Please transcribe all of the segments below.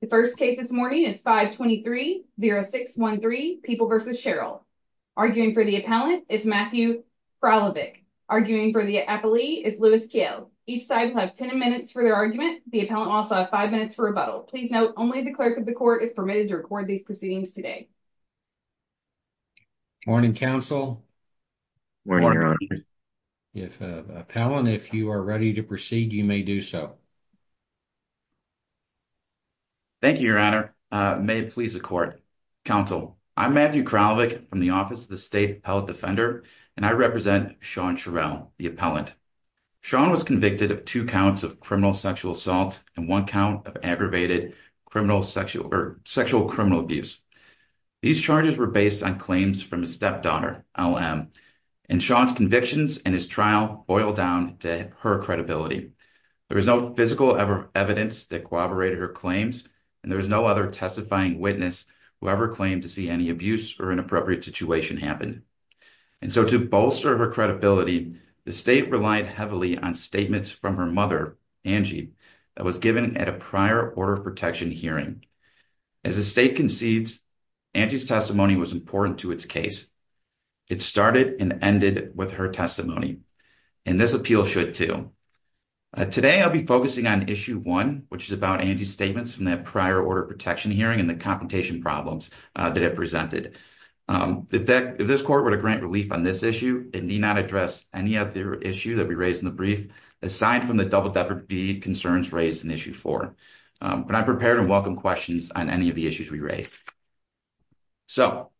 The first case this morning is 523-0613, People v. Sherrill. Arguing for the appellant is Matthew Kralovic. Arguing for the appellee is Louis Kiel. Each side will have 10 minutes for their argument. The appellant will also have 5 minutes for rebuttal. Please note, only the clerk of the court is permitted to record these proceedings today. Morning, counsel. Morning, Your Honor. If, appellant, if you are ready to proceed, you may do so. Thank you, Your Honor. May it please the court. Counsel, I'm Matthew Kralovic from the Office of the State Appellate Defender, and I represent Sean Sherrill, the appellant. Sean was convicted of two counts of criminal sexual assault and one count of aggravated sexual criminal abuse. These charges were based on claims from his stepdaughter, LM, and Sean's convictions and his trial boil down to her credibility. There was no physical evidence that corroborated her claims. There was no other testifying witness who ever claimed to see any abuse or inappropriate situation happen. So, to bolster her credibility, the state relied heavily on statements from her mother, Angie, that was given at a prior order of protection hearing. As the state concedes, Angie's testimony was important to its case. It started and ended with her testimony, and this appeal should too. Today, I'll be focusing on issue one, which is about Angie's statements from that prior order of protection hearing and the confrontation problems that it presented. If this court were to grant relief on this issue, it need not address any other issue that we raised in the brief aside from the double-deputy concerns raised in issue four. But I'm prepared to welcome questions on any of the issues we raised. So,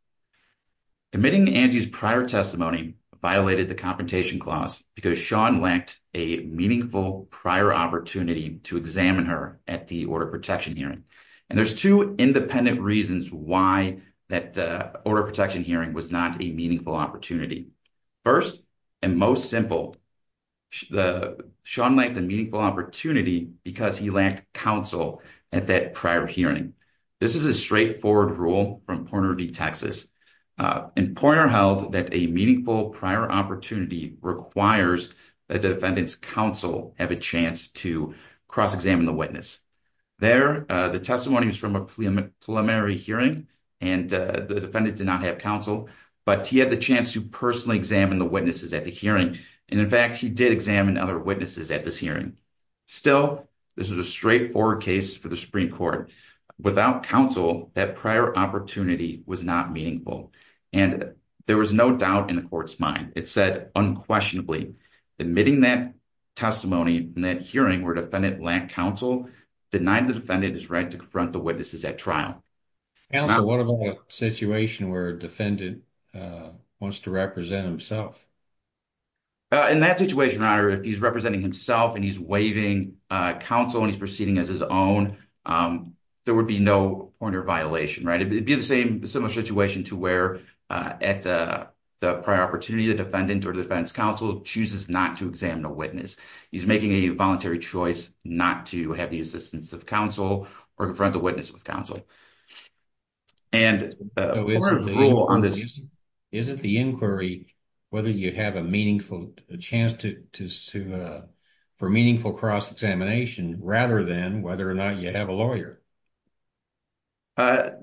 admitting Angie's prior testimony violated the confrontation clause because Sean lacked a meaningful prior opportunity to examine her at the order of protection hearing. And there's two independent reasons why that order of protection hearing was not a meaningful opportunity. First and most simple, Sean lacked a meaningful opportunity because he lacked counsel at that prior hearing. This is a straightforward rule from Poynter v. Texas. In Poynter held that a meaningful prior opportunity requires that the defendant's counsel have a chance to cross-examine the witness. There, the testimony was from a preliminary hearing and the defendant did not have counsel, but he had the chance to personally examine the witnesses at the hearing. And in fact, he did examine other witnesses at this hearing. Still, this is a straightforward case for the Supreme Court. Without counsel, that prior opportunity was not meaningful. And there was no doubt in the court's mind. It said unquestionably. Admitting that testimony in that hearing where defendant lacked counsel denied the defendant his right to confront the witnesses at trial. Counsel, what about a situation where a defendant wants to represent himself? In that situation, your honor, if he's representing himself and he's waiving counsel and he's proceeding as his own, there would be no Poynter violation, right? It'd be the same, similar situation to where at the prior opportunity the defendant or defense counsel chooses not to examine a witness. He's making a voluntary choice not to have the assistance of counsel or confront the witness with counsel. And... Is it the inquiry whether you have a meaningful chance for meaningful cross-examination rather than whether or not you have a lawyer? Poynter,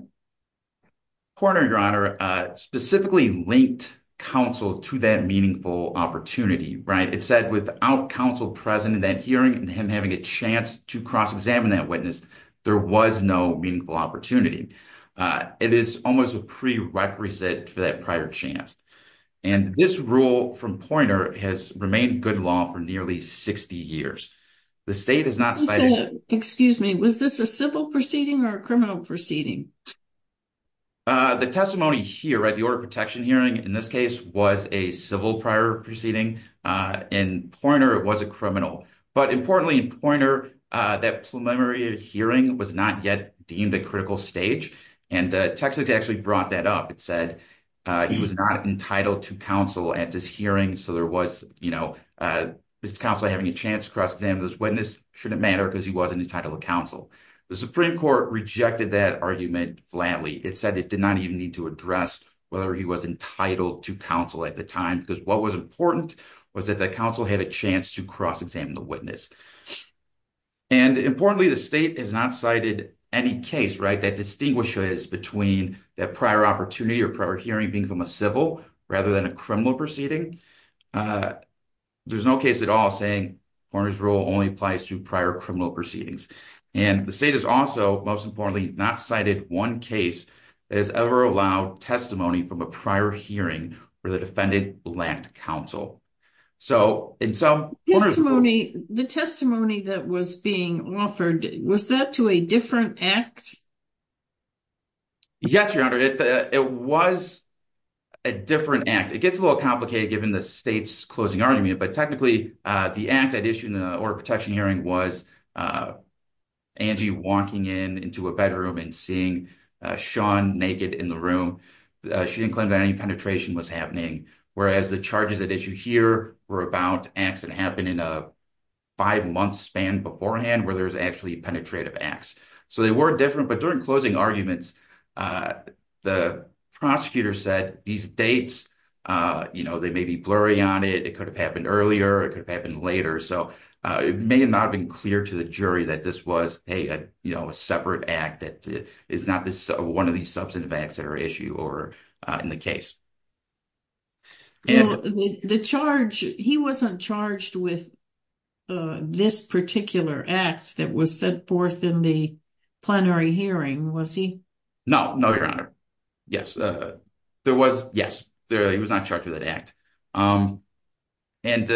your honor, specifically linked counsel to that meaningful opportunity, right? It said without counsel present in that hearing and him having a chance to cross-examine that witness, there was no meaningful opportunity. It is almost a prerequisite for that prior chance. And this rule from Poynter has remained good law for nearly 60 years. The state has not... Excuse me. Was this a civil proceeding or a criminal proceeding? The testimony here at the order of protection hearing, in this case, was a civil prior proceeding. In Poynter, it was a criminal. But importantly, in Poynter, that preliminary hearing was not yet deemed a critical stage. And Texas actually brought that up. It said he was not entitled to counsel at this hearing. So there was, you know, his counsel having a chance to cross-examine this witness shouldn't matter because he wasn't entitled to counsel. The Supreme Court rejected that argument flatly. It said it did not even need to address whether he was entitled to counsel at the time because what was important was that the counsel had a chance to cross-examine the witness. And importantly, the state has not cited any case, right, that distinguishes between that prior opportunity or prior hearing being from a civil rather than a criminal proceeding. There's no case at all saying Poynter's rule only applies to prior criminal proceedings. And the state has also, most importantly, not cited one case that has ever allowed testimony from a prior hearing where the defendant lacked counsel. So in some... The testimony that was being offered, was that to a different act? Yes, Your Honor, it was a different act. It gets a little complicated given the state's closing argument. But technically, the act at issue in the order of protection hearing was Angie walking into a bedroom and seeing Sean naked in the room. She didn't claim that any penetration was happening. Whereas the charges at issue here were about acts that happened in a five-month span beforehand where there's actually penetrative acts. So they were different. But during closing arguments, the prosecutor said these dates, they may be blurry on it. It could have happened earlier. It could have happened later. So it may not have been clear to the jury that this was a separate act that is not one of these substantive acts that are at issue or in the case. Well, the charge... He wasn't charged with this particular act that was set forth in the plenary hearing, was he? No, no, Your Honor. Yes, there was... Yes, he was not charged with that act. And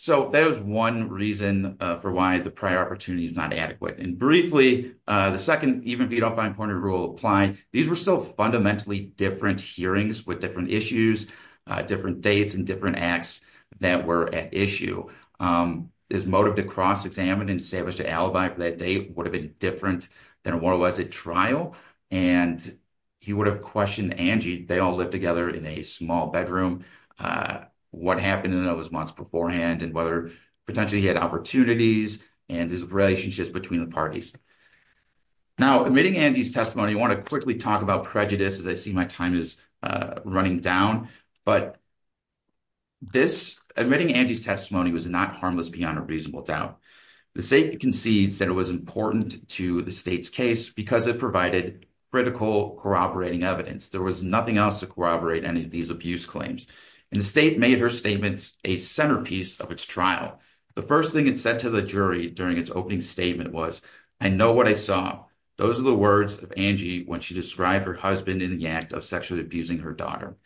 so that was one reason for why the prior opportunity is not adequate. And briefly, the second, even if you don't find point of rule applying, these were still fundamentally different hearings with different issues, different dates and different acts that were at issue. His motive to cross-examine and establish an alibi for that date would have been different than what was at trial. And he would have questioned Angie. They all lived together in a small bedroom. What happened in those months beforehand and whether potentially he had opportunities and his relationships between the parties. Now, admitting Angie's testimony, I wanna quickly talk about prejudice as I see my time is running down. But admitting Angie's testimony was not harmless beyond a reasonable doubt. The state concedes that it was important to the state's case because it provided critical corroborating evidence. There was nothing else to corroborate any of these abuse claims. And the state made her statements a centerpiece of its trial. The first thing it said to the jury during its opening statement was, I know what I saw. Those are the words of Angie when she described her husband in the act of sexually abusing her daughter.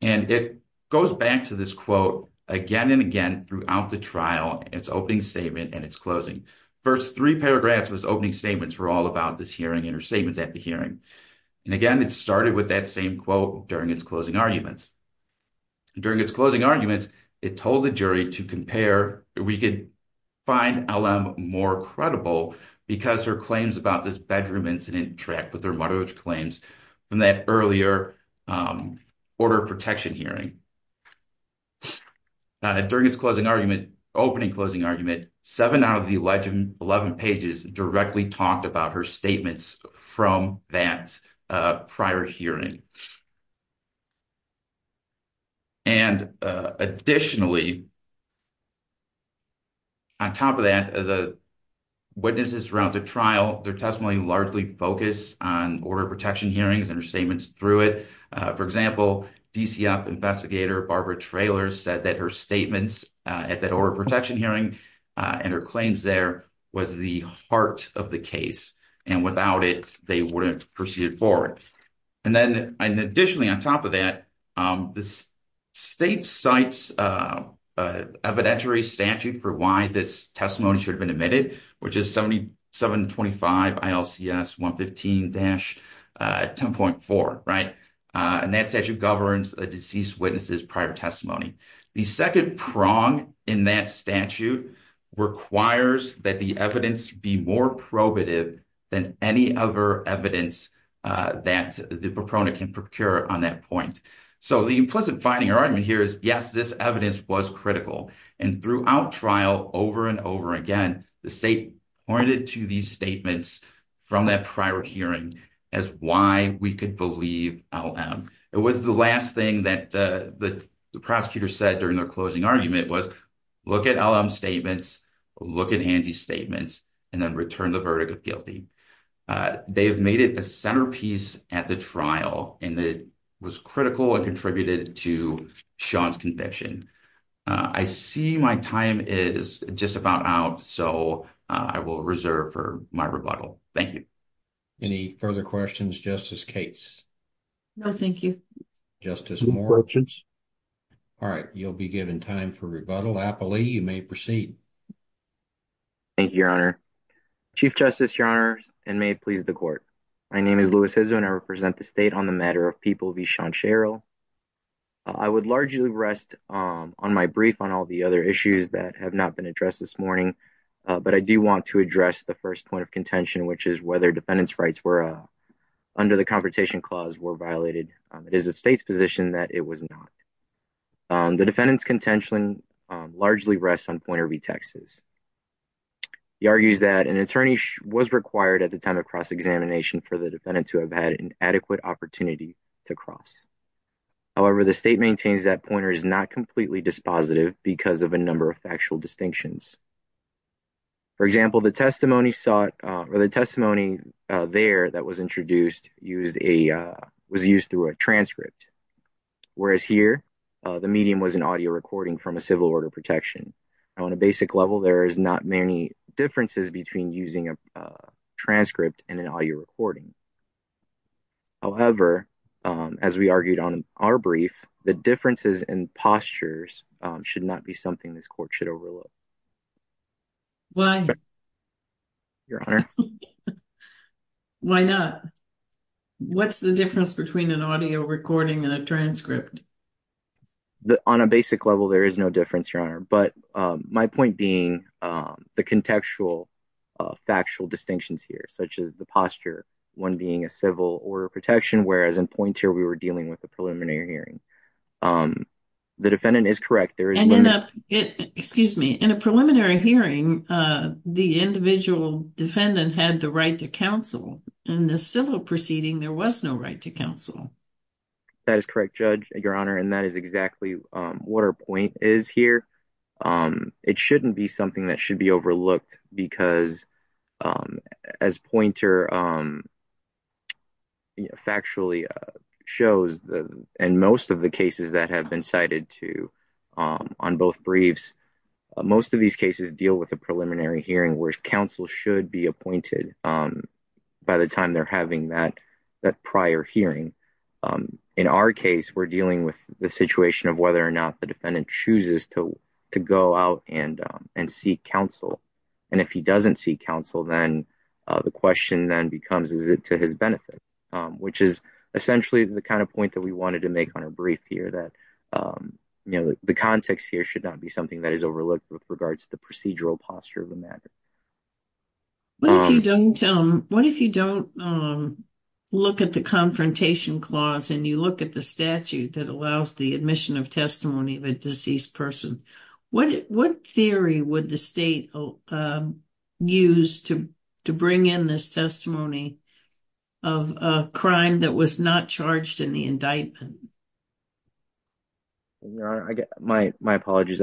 And it goes back to this quote again and again throughout the trial, its opening statement and its closing. First three paragraphs of his opening statements were all about this hearing and her statements at the hearing. And again, it started with that same quote during its closing arguments. During its closing arguments, it told the jury to compare, we could find LM more credible because her claims about this bedroom incident tracked with their motherhood claims from that earlier order of protection hearing. And during its closing argument, opening closing argument, seven out of the 11 pages directly talked about her statements from that prior hearing. And additionally, on top of that, the witnesses around the trial, their testimony largely focused on order of protection hearings and her statements through it. For example, DCF investigator Barbara Traylor said that her statements at that order of protection hearing and her claims there was the heart of the case and without it, they wouldn't proceed forward. And then additionally, on top of that, the state cites evidentiary statute for why this testimony should have been admitted, which is 7725 ILCS 115-10.4, right? And that statute governs a deceased witnesses prior testimony. The second prong in that statute requires that the evidence be more probative than any other evidence that the proponent can procure on that point. So the implicit finding argument here is, yes, this evidence was critical. And throughout trial, over and over again, the state pointed to these statements from that prior hearing as why we could believe LM. It was the last thing that the prosecutor said during their closing argument was look at LM statements, look at Angie's statements and then return the verdict of guilty. They have made it a centerpiece at the trial and it was critical and contributed to Sean's conviction. I see my time is just about out. So I will reserve for my rebuttal. Thank you. Any further questions, Justice Cates? No, thank you. Justice Moore. All right. You'll be given time for rebuttal. Apolli, you may proceed. Thank you, Your Honor. Chief Justice, Your Honor, may it please the court. My name is Louis Hizzo and I represent the state on the matter of People v. Sean Sherrill. I would largely rest on my brief on all the other issues that have not been addressed this morning. But I do want to address the first point of contention, which is whether defendants' rights under the Confrontation Clause were violated. It is the state's position that it was not. The defendant's contention largely rests on Pointer v. Texas. He argues that an attorney was required at the time of cross-examination for the defendant to have had an adequate opportunity to cross. However, the state maintains that Pointer is not completely dispositive because of a number of factual distinctions. For example, the testimony there that was introduced was used through a transcript. Whereas here, the medium was an audio recording from a civil order protection. On a basic level, there is not many differences between using a transcript and an audio recording. However, as we argued on our brief, the differences in postures should not be something this court should overlook. Your Honor. Why not? What's the difference between an audio recording and a transcript? On a basic level, there is no difference, Your Honor. My point being the contextual, factual distinctions here, such as the posture, one being a civil order protection, whereas in Pointer, we were dealing with a preliminary hearing. The defendant is correct. Excuse me. In a preliminary hearing, the individual defendant had the right to counsel. In the civil proceeding, there was no right to counsel. That is correct, Judge, Your Honor. And that is exactly what our point is here. It shouldn't be something that should be overlooked because as Pointer factually shows, and most of the cases that have been cited to on both briefs, most of these cases deal with a preliminary hearing where counsel should be appointed by the time they're having that prior hearing. In our case, we're dealing with the situation of whether or not the defendant chooses to go out and seek counsel. And if he doesn't seek counsel, then the question then becomes, is it to his benefit? Which is essentially the kind of point that we wanted to make on a brief here that the context here should not be something that is overlooked with regards to the procedural posture. What if you don't look at the confrontation clause and you look at the statute that allows the admission of testimony of a deceased person, what theory would the state use to bring in this testimony of a crime that was not charged in the indictment? My apologies.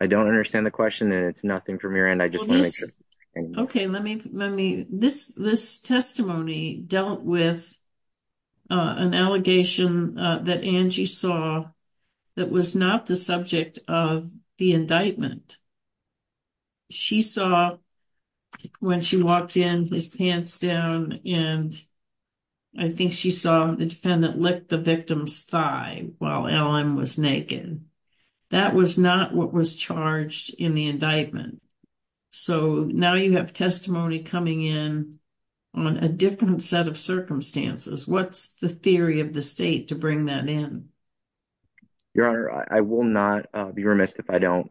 I don't understand the question and it's nothing from your end. I just want to make sure. Okay, let me, let me, this testimony dealt with an allegation that Angie saw that was not the subject of the indictment. She saw when she walked in his pants down and I think she saw the defendant lick the victim's thigh while Alan was naked. That was not what was charged in the indictment. So now you have testimony coming in on a different set of circumstances. What's the theory of the state to bring that in? Your Honor, I will not be remissed if I don't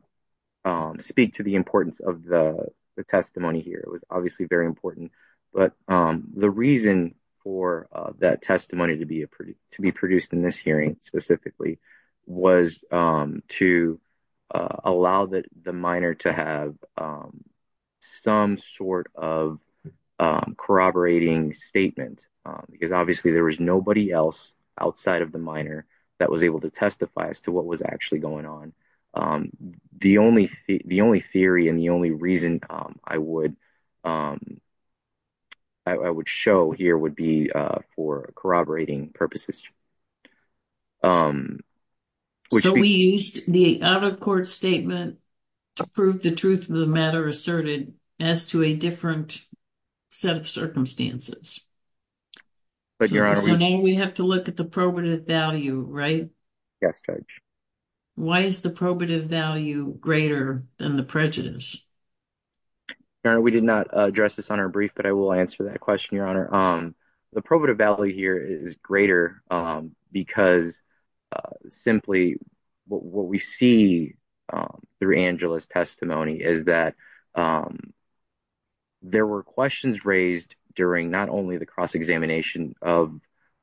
speak to the importance of the testimony here. It was obviously very important, but the reason for that testimony to be produced in this hearing specifically was to allow that the minor to have some sort of corroborating statement because obviously there was nobody else outside of the minor that was able to testify as to what was actually going on. The only, the only theory and the only reason I would, I would show here would be for corroborating purposes. So we used the out-of-court statement to prove the truth of the matter asserted as to a different set of circumstances. So now we have to look at the probative value, right? Yes, Judge. Why is the probative value greater than the prejudice? Your Honor, we did not address this on our brief, but I will answer that question, Your Honor. The probative value here is greater because simply what we see through Angela's testimony is that there were questions raised during not only the cross-examination of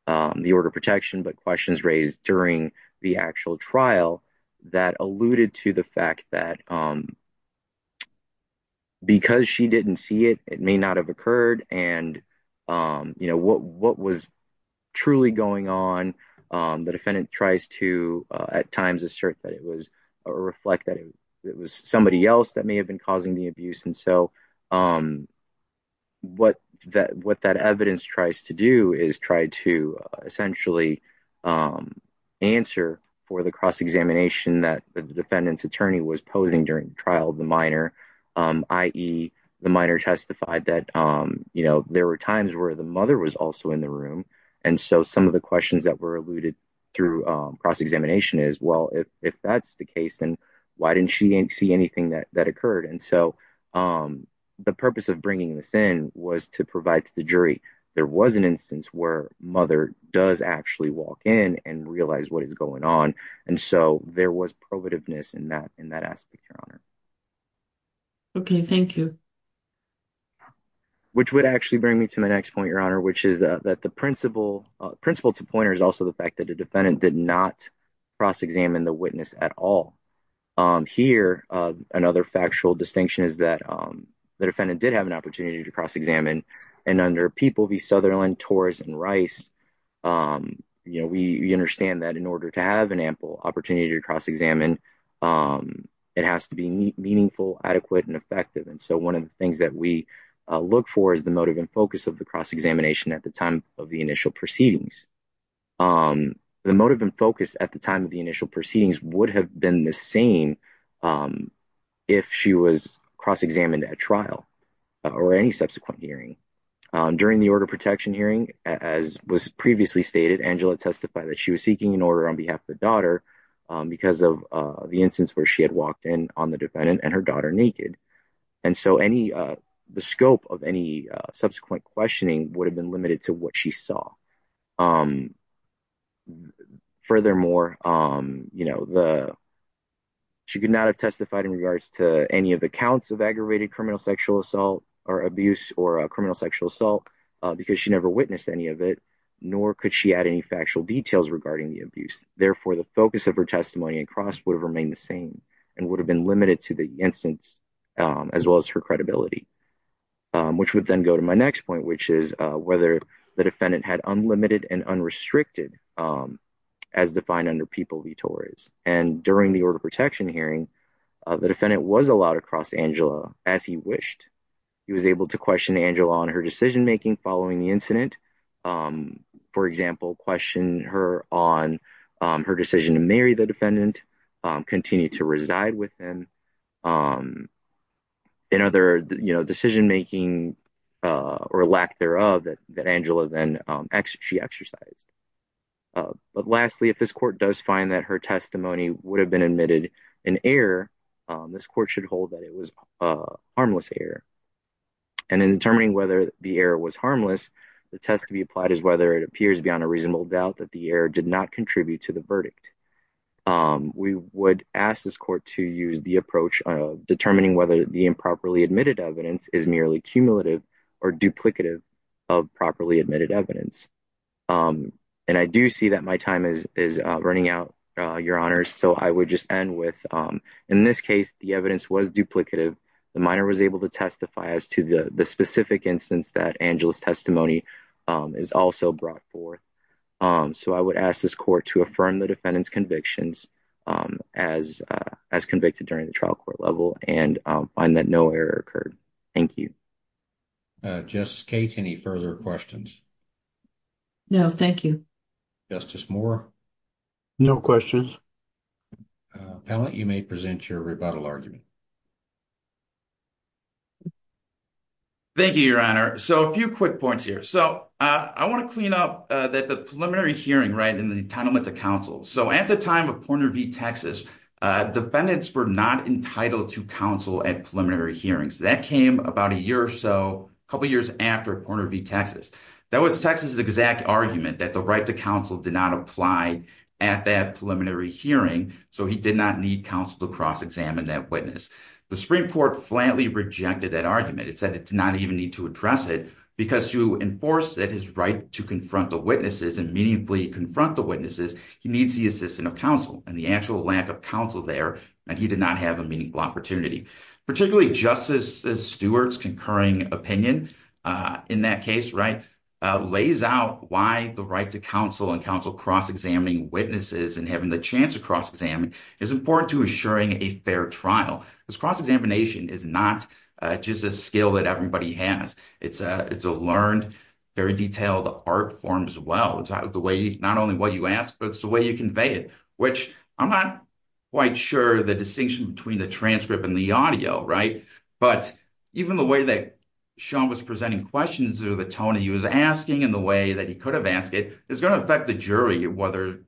the order of protection, but questions raised during the actual trial that alluded to the fact that because she didn't see it, it may not have occurred. And what was truly going on, the defendant tries to at times assert that it was, or reflect that it was somebody else that may have been causing the abuse. And so what that evidence tries to do is try to essentially answer for the cross-examination that the defendant's attorney was posing during the trial of the minor, i.e. the minor testified that there were times where the mother was also in the room. And so some of the questions that were alluded through cross-examination is, well, if that's the case, then why didn't she see anything that occurred? And so the purpose of bringing this in was to provide to the jury. There was an instance where mother does actually walk in and realize what is going on. And so there was provativeness in that aspect, Your Honor. Okay, thank you. Which would actually bring me to my next point, Your Honor, which is that the principle to point is also the fact that the defendant did not cross-examine the witness at all. Here, another factual distinction is that the defendant did have an opportunity to cross-examine. And under People v. Sutherland, Torres, and Rice, we understand that in order to have an ample opportunity to cross-examine, it has to be meaningful, adequate, and effective. And so one of the things that we look for is the motive and focus of the cross-examination at the time of the initial proceedings. The motive and focus at the time of the initial proceedings would have been the same if she was cross-examined at trial or any subsequent hearing. During the order protection hearing, as was previously stated, Angela testified that she was seeking an order on behalf of the daughter because of the instance where she had walked in on the defendant and her daughter naked. And so the scope of any subsequent questioning would have been limited to what she saw. Furthermore, she could not have testified in regards to any of the counts of aggravated criminal sexual assault or abuse or criminal sexual assault because she never witnessed any of it, nor could she add any factual details regarding the abuse. Therefore, the focus of her testimony and cross would have remained the same and would have been limited to the instance as well as her credibility, which would then go to my next point, which is whether the defendant had unlimited and unrestricted as defined under People v. Torres. And during the order protection hearing, the defendant was allowed to cross Angela as he wished. He was able to question Angela on her decision making following the incident, for example, question her on her decision to marry the defendant, continue to reside with them in other decision making or lack thereof that Angela then she exercised. But lastly, if this court does find that her testimony would have been admitted in error, this court should hold that it was a harmless error. And in determining whether the error was harmless, the test to be applied is whether it appears beyond a reasonable doubt that the error did not contribute to the verdict. We would ask this court to use the approach of determining whether the improperly admitted evidence is merely cumulative or duplicative of properly admitted evidence. And I do see that my time is running out, Your Honor. So I would just end with in this case, the evidence was duplicative. The minor was able to testify as to the specific instance that Angela's testimony is also brought forth. So I would ask this court to affirm the defendant's convictions as convicted during the trial court level and find that no error occurred. Thank you. Justice Cates, any further questions? No, thank you. Justice Moore? No questions. Panelist, you may present your rebuttal argument. Thank you, Your Honor. So a few quick points here. So I want to clean up that the preliminary hearing right in the entitlement to counsel. So at the time of Porter v. Texas, defendants were not entitled to counsel at preliminary hearings. That came about a year or so, a couple of years after Porter v. Texas. That was Texas's exact argument that the right to counsel did not apply at that preliminary hearing. So he did not need counsel to cross-examine that witness. The Supreme Court flatly rejected that argument. It said it did not even need to address it because to enforce that his right to confront the witnesses and meaningfully confront the witnesses, he needs the assistance of counsel. And the actual lack of counsel there, and he did not have a meaningful opportunity. Particularly, Justice Stewart's concurring opinion in that case, lays out why the right to counsel and counsel cross-examining witnesses and having the chance to cross-examine is important to assuring a fair trial. Because cross-examination is not just a skill that everybody has. It's a learned, very detailed art form as well. It's not only what you ask, but it's the way you convey it, which I'm not quite sure the distinction between the transcript and the audio, right? But even the way that Sean was presenting questions or the tone he was asking and the way that he could have asked it is going to affect the jury, whether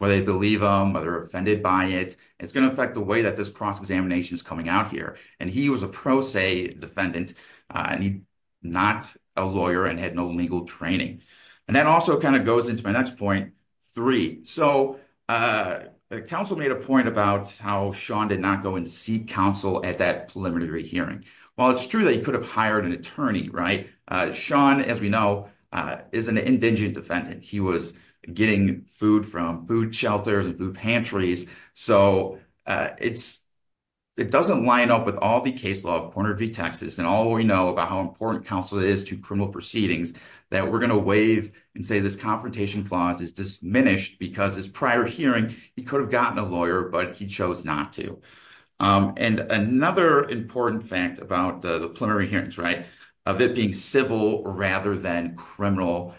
they believe him, whether they're offended by it. It's going to affect the way that this cross-examination is coming out here. And he was a pro se defendant and he's not a lawyer and had no legal training. And that also kind of goes into my next point, three. So counsel made a point about how Sean did not go and seek counsel at that preliminary hearing. While it's true that he could have hired an attorney, right? Sean, as we know, is an indigent defendant. He was getting food from food shelters and food pantries. So it doesn't line up with all the case law of Porter v. Texas and all we know about how important counsel is to criminal proceedings that we're going to waive and say this confrontation clause is diminished because his prior hearing, he could have gotten a lawyer, but he chose not to. And another important fact about the preliminary hearings, right? Of it being civil rather than criminal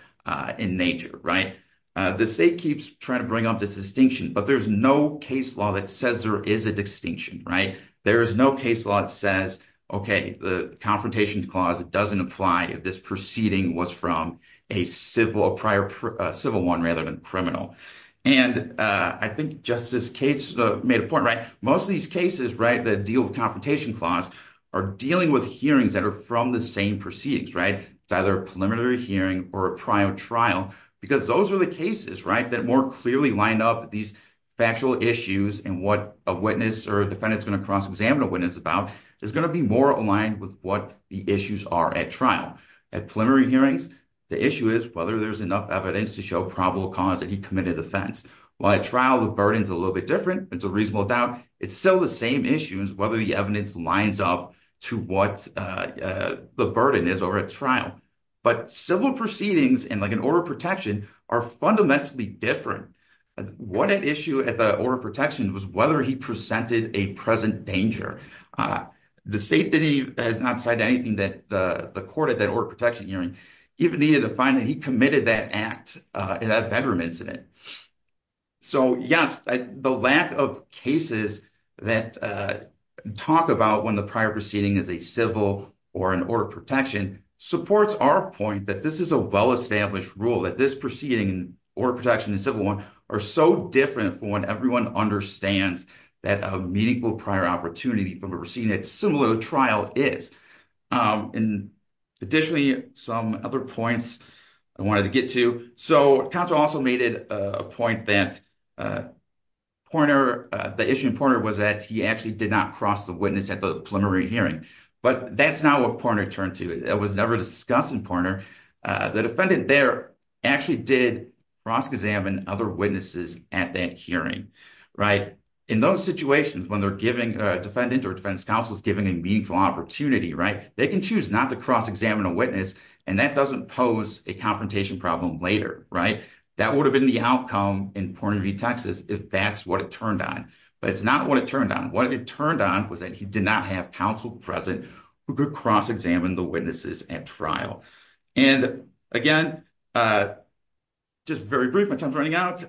in nature, right? The state keeps trying to bring up this distinction, but there's no case law that says there is a distinction, right? There is no case law that says, okay, the confrontation clause doesn't apply if this proceeding was from a civil one rather than criminal. And I think Justice Cates made a point, right? Most of these cases, right? The deal with confrontation clause are dealing with hearings that are from the same proceedings, right? It's either a preliminary hearing or a prior trial because those are the cases, right? That more clearly lined up these factual issues and what a witness or a defendant is going to cross-examine a witness about is going to be more aligned with what the issues are at trial. At preliminary hearings, the issue is whether there's enough evidence to show probable cause that he committed offense. While at trial, the burden is a little bit different. It's a reasonable doubt. It's still the same issues whether the evidence lines up to what the burden is over at trial. But civil proceedings and like an order of protection are fundamentally different. What at issue at the order of protection was whether he presented a present danger. The state has not said anything that the court at that order of protection hearing even needed to find that he committed that act in that bedroom incident. So yes, the lack of cases that talk about when the prior proceeding is a civil or an order of protection supports our point that this is a well-established rule that this proceeding or protection in civil one are so different from what everyone understands that a meaningful prior opportunity from a proceeding at similar trial is. And additionally, some other points I wanted to get to. So counsel also made it a point that the issue in pointer was that he actually did not cross the witness at the preliminary hearing. But that's not what partner turned to. It was never discussed in partner. The defendant there actually did cross examine other witnesses at that hearing, right? In those situations when they're giving a defendant or defense counsel is giving a meaningful opportunity, right? They can choose not to cross examine a witness. And that doesn't pose a confrontation problem later, right? That would have been the outcome in point of view, Texas, if that's what it turned on. But it's not what it turned on. What it turned on he did not have counsel present who could cross examine the witnesses at trial. And again, just very brief, my time's running out.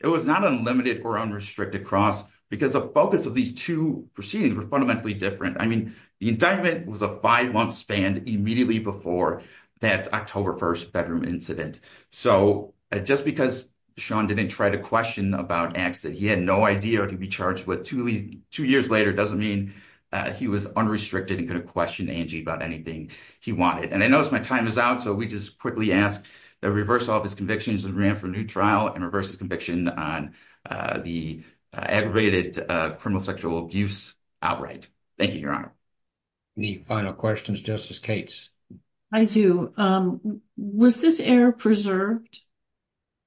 It was not unlimited or unrestricted cross because the focus of these two proceedings were fundamentally different. I mean, the indictment was a five month span immediately before that October 1st bedroom incident. So just because Sean didn't try to question about exit, he had no idea what he'd be charged with. Two years later doesn't mean he was unrestricted and couldn't question Angie about anything he wanted. And I noticed my time is out. So we just quickly ask the reversal of his convictions and ran for a new trial and reverse his conviction on the aggravated criminal sexual abuse outright. Thank you, Your Honor. Any final questions, Justice Cates? I do. Was this error preserved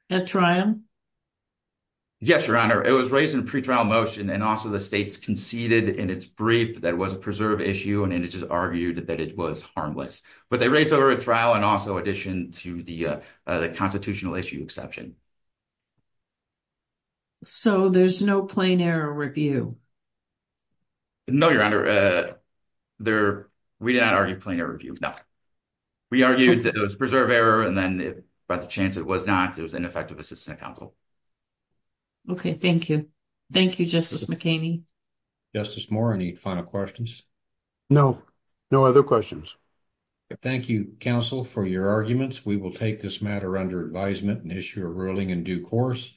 at trial? Yes, Your Honor. It was raised in pretrial motion and also the state's conceded in its brief that was a preserved issue and it is argued that it was harmless. But they raised over a trial and also addition to the constitutional issue exception. So there's no plain error review? No, Your Honor. We did not argue plain error review. No. We argued that it was preserved error and then by the chance it was not, it was ineffective assistant counsel. OK, thank you. Thank you, Justice McKinney. Justice Moore, any final questions? No, no other questions. Thank you, counsel, for your arguments. We will take this matter under advisement and issue a ruling in due course.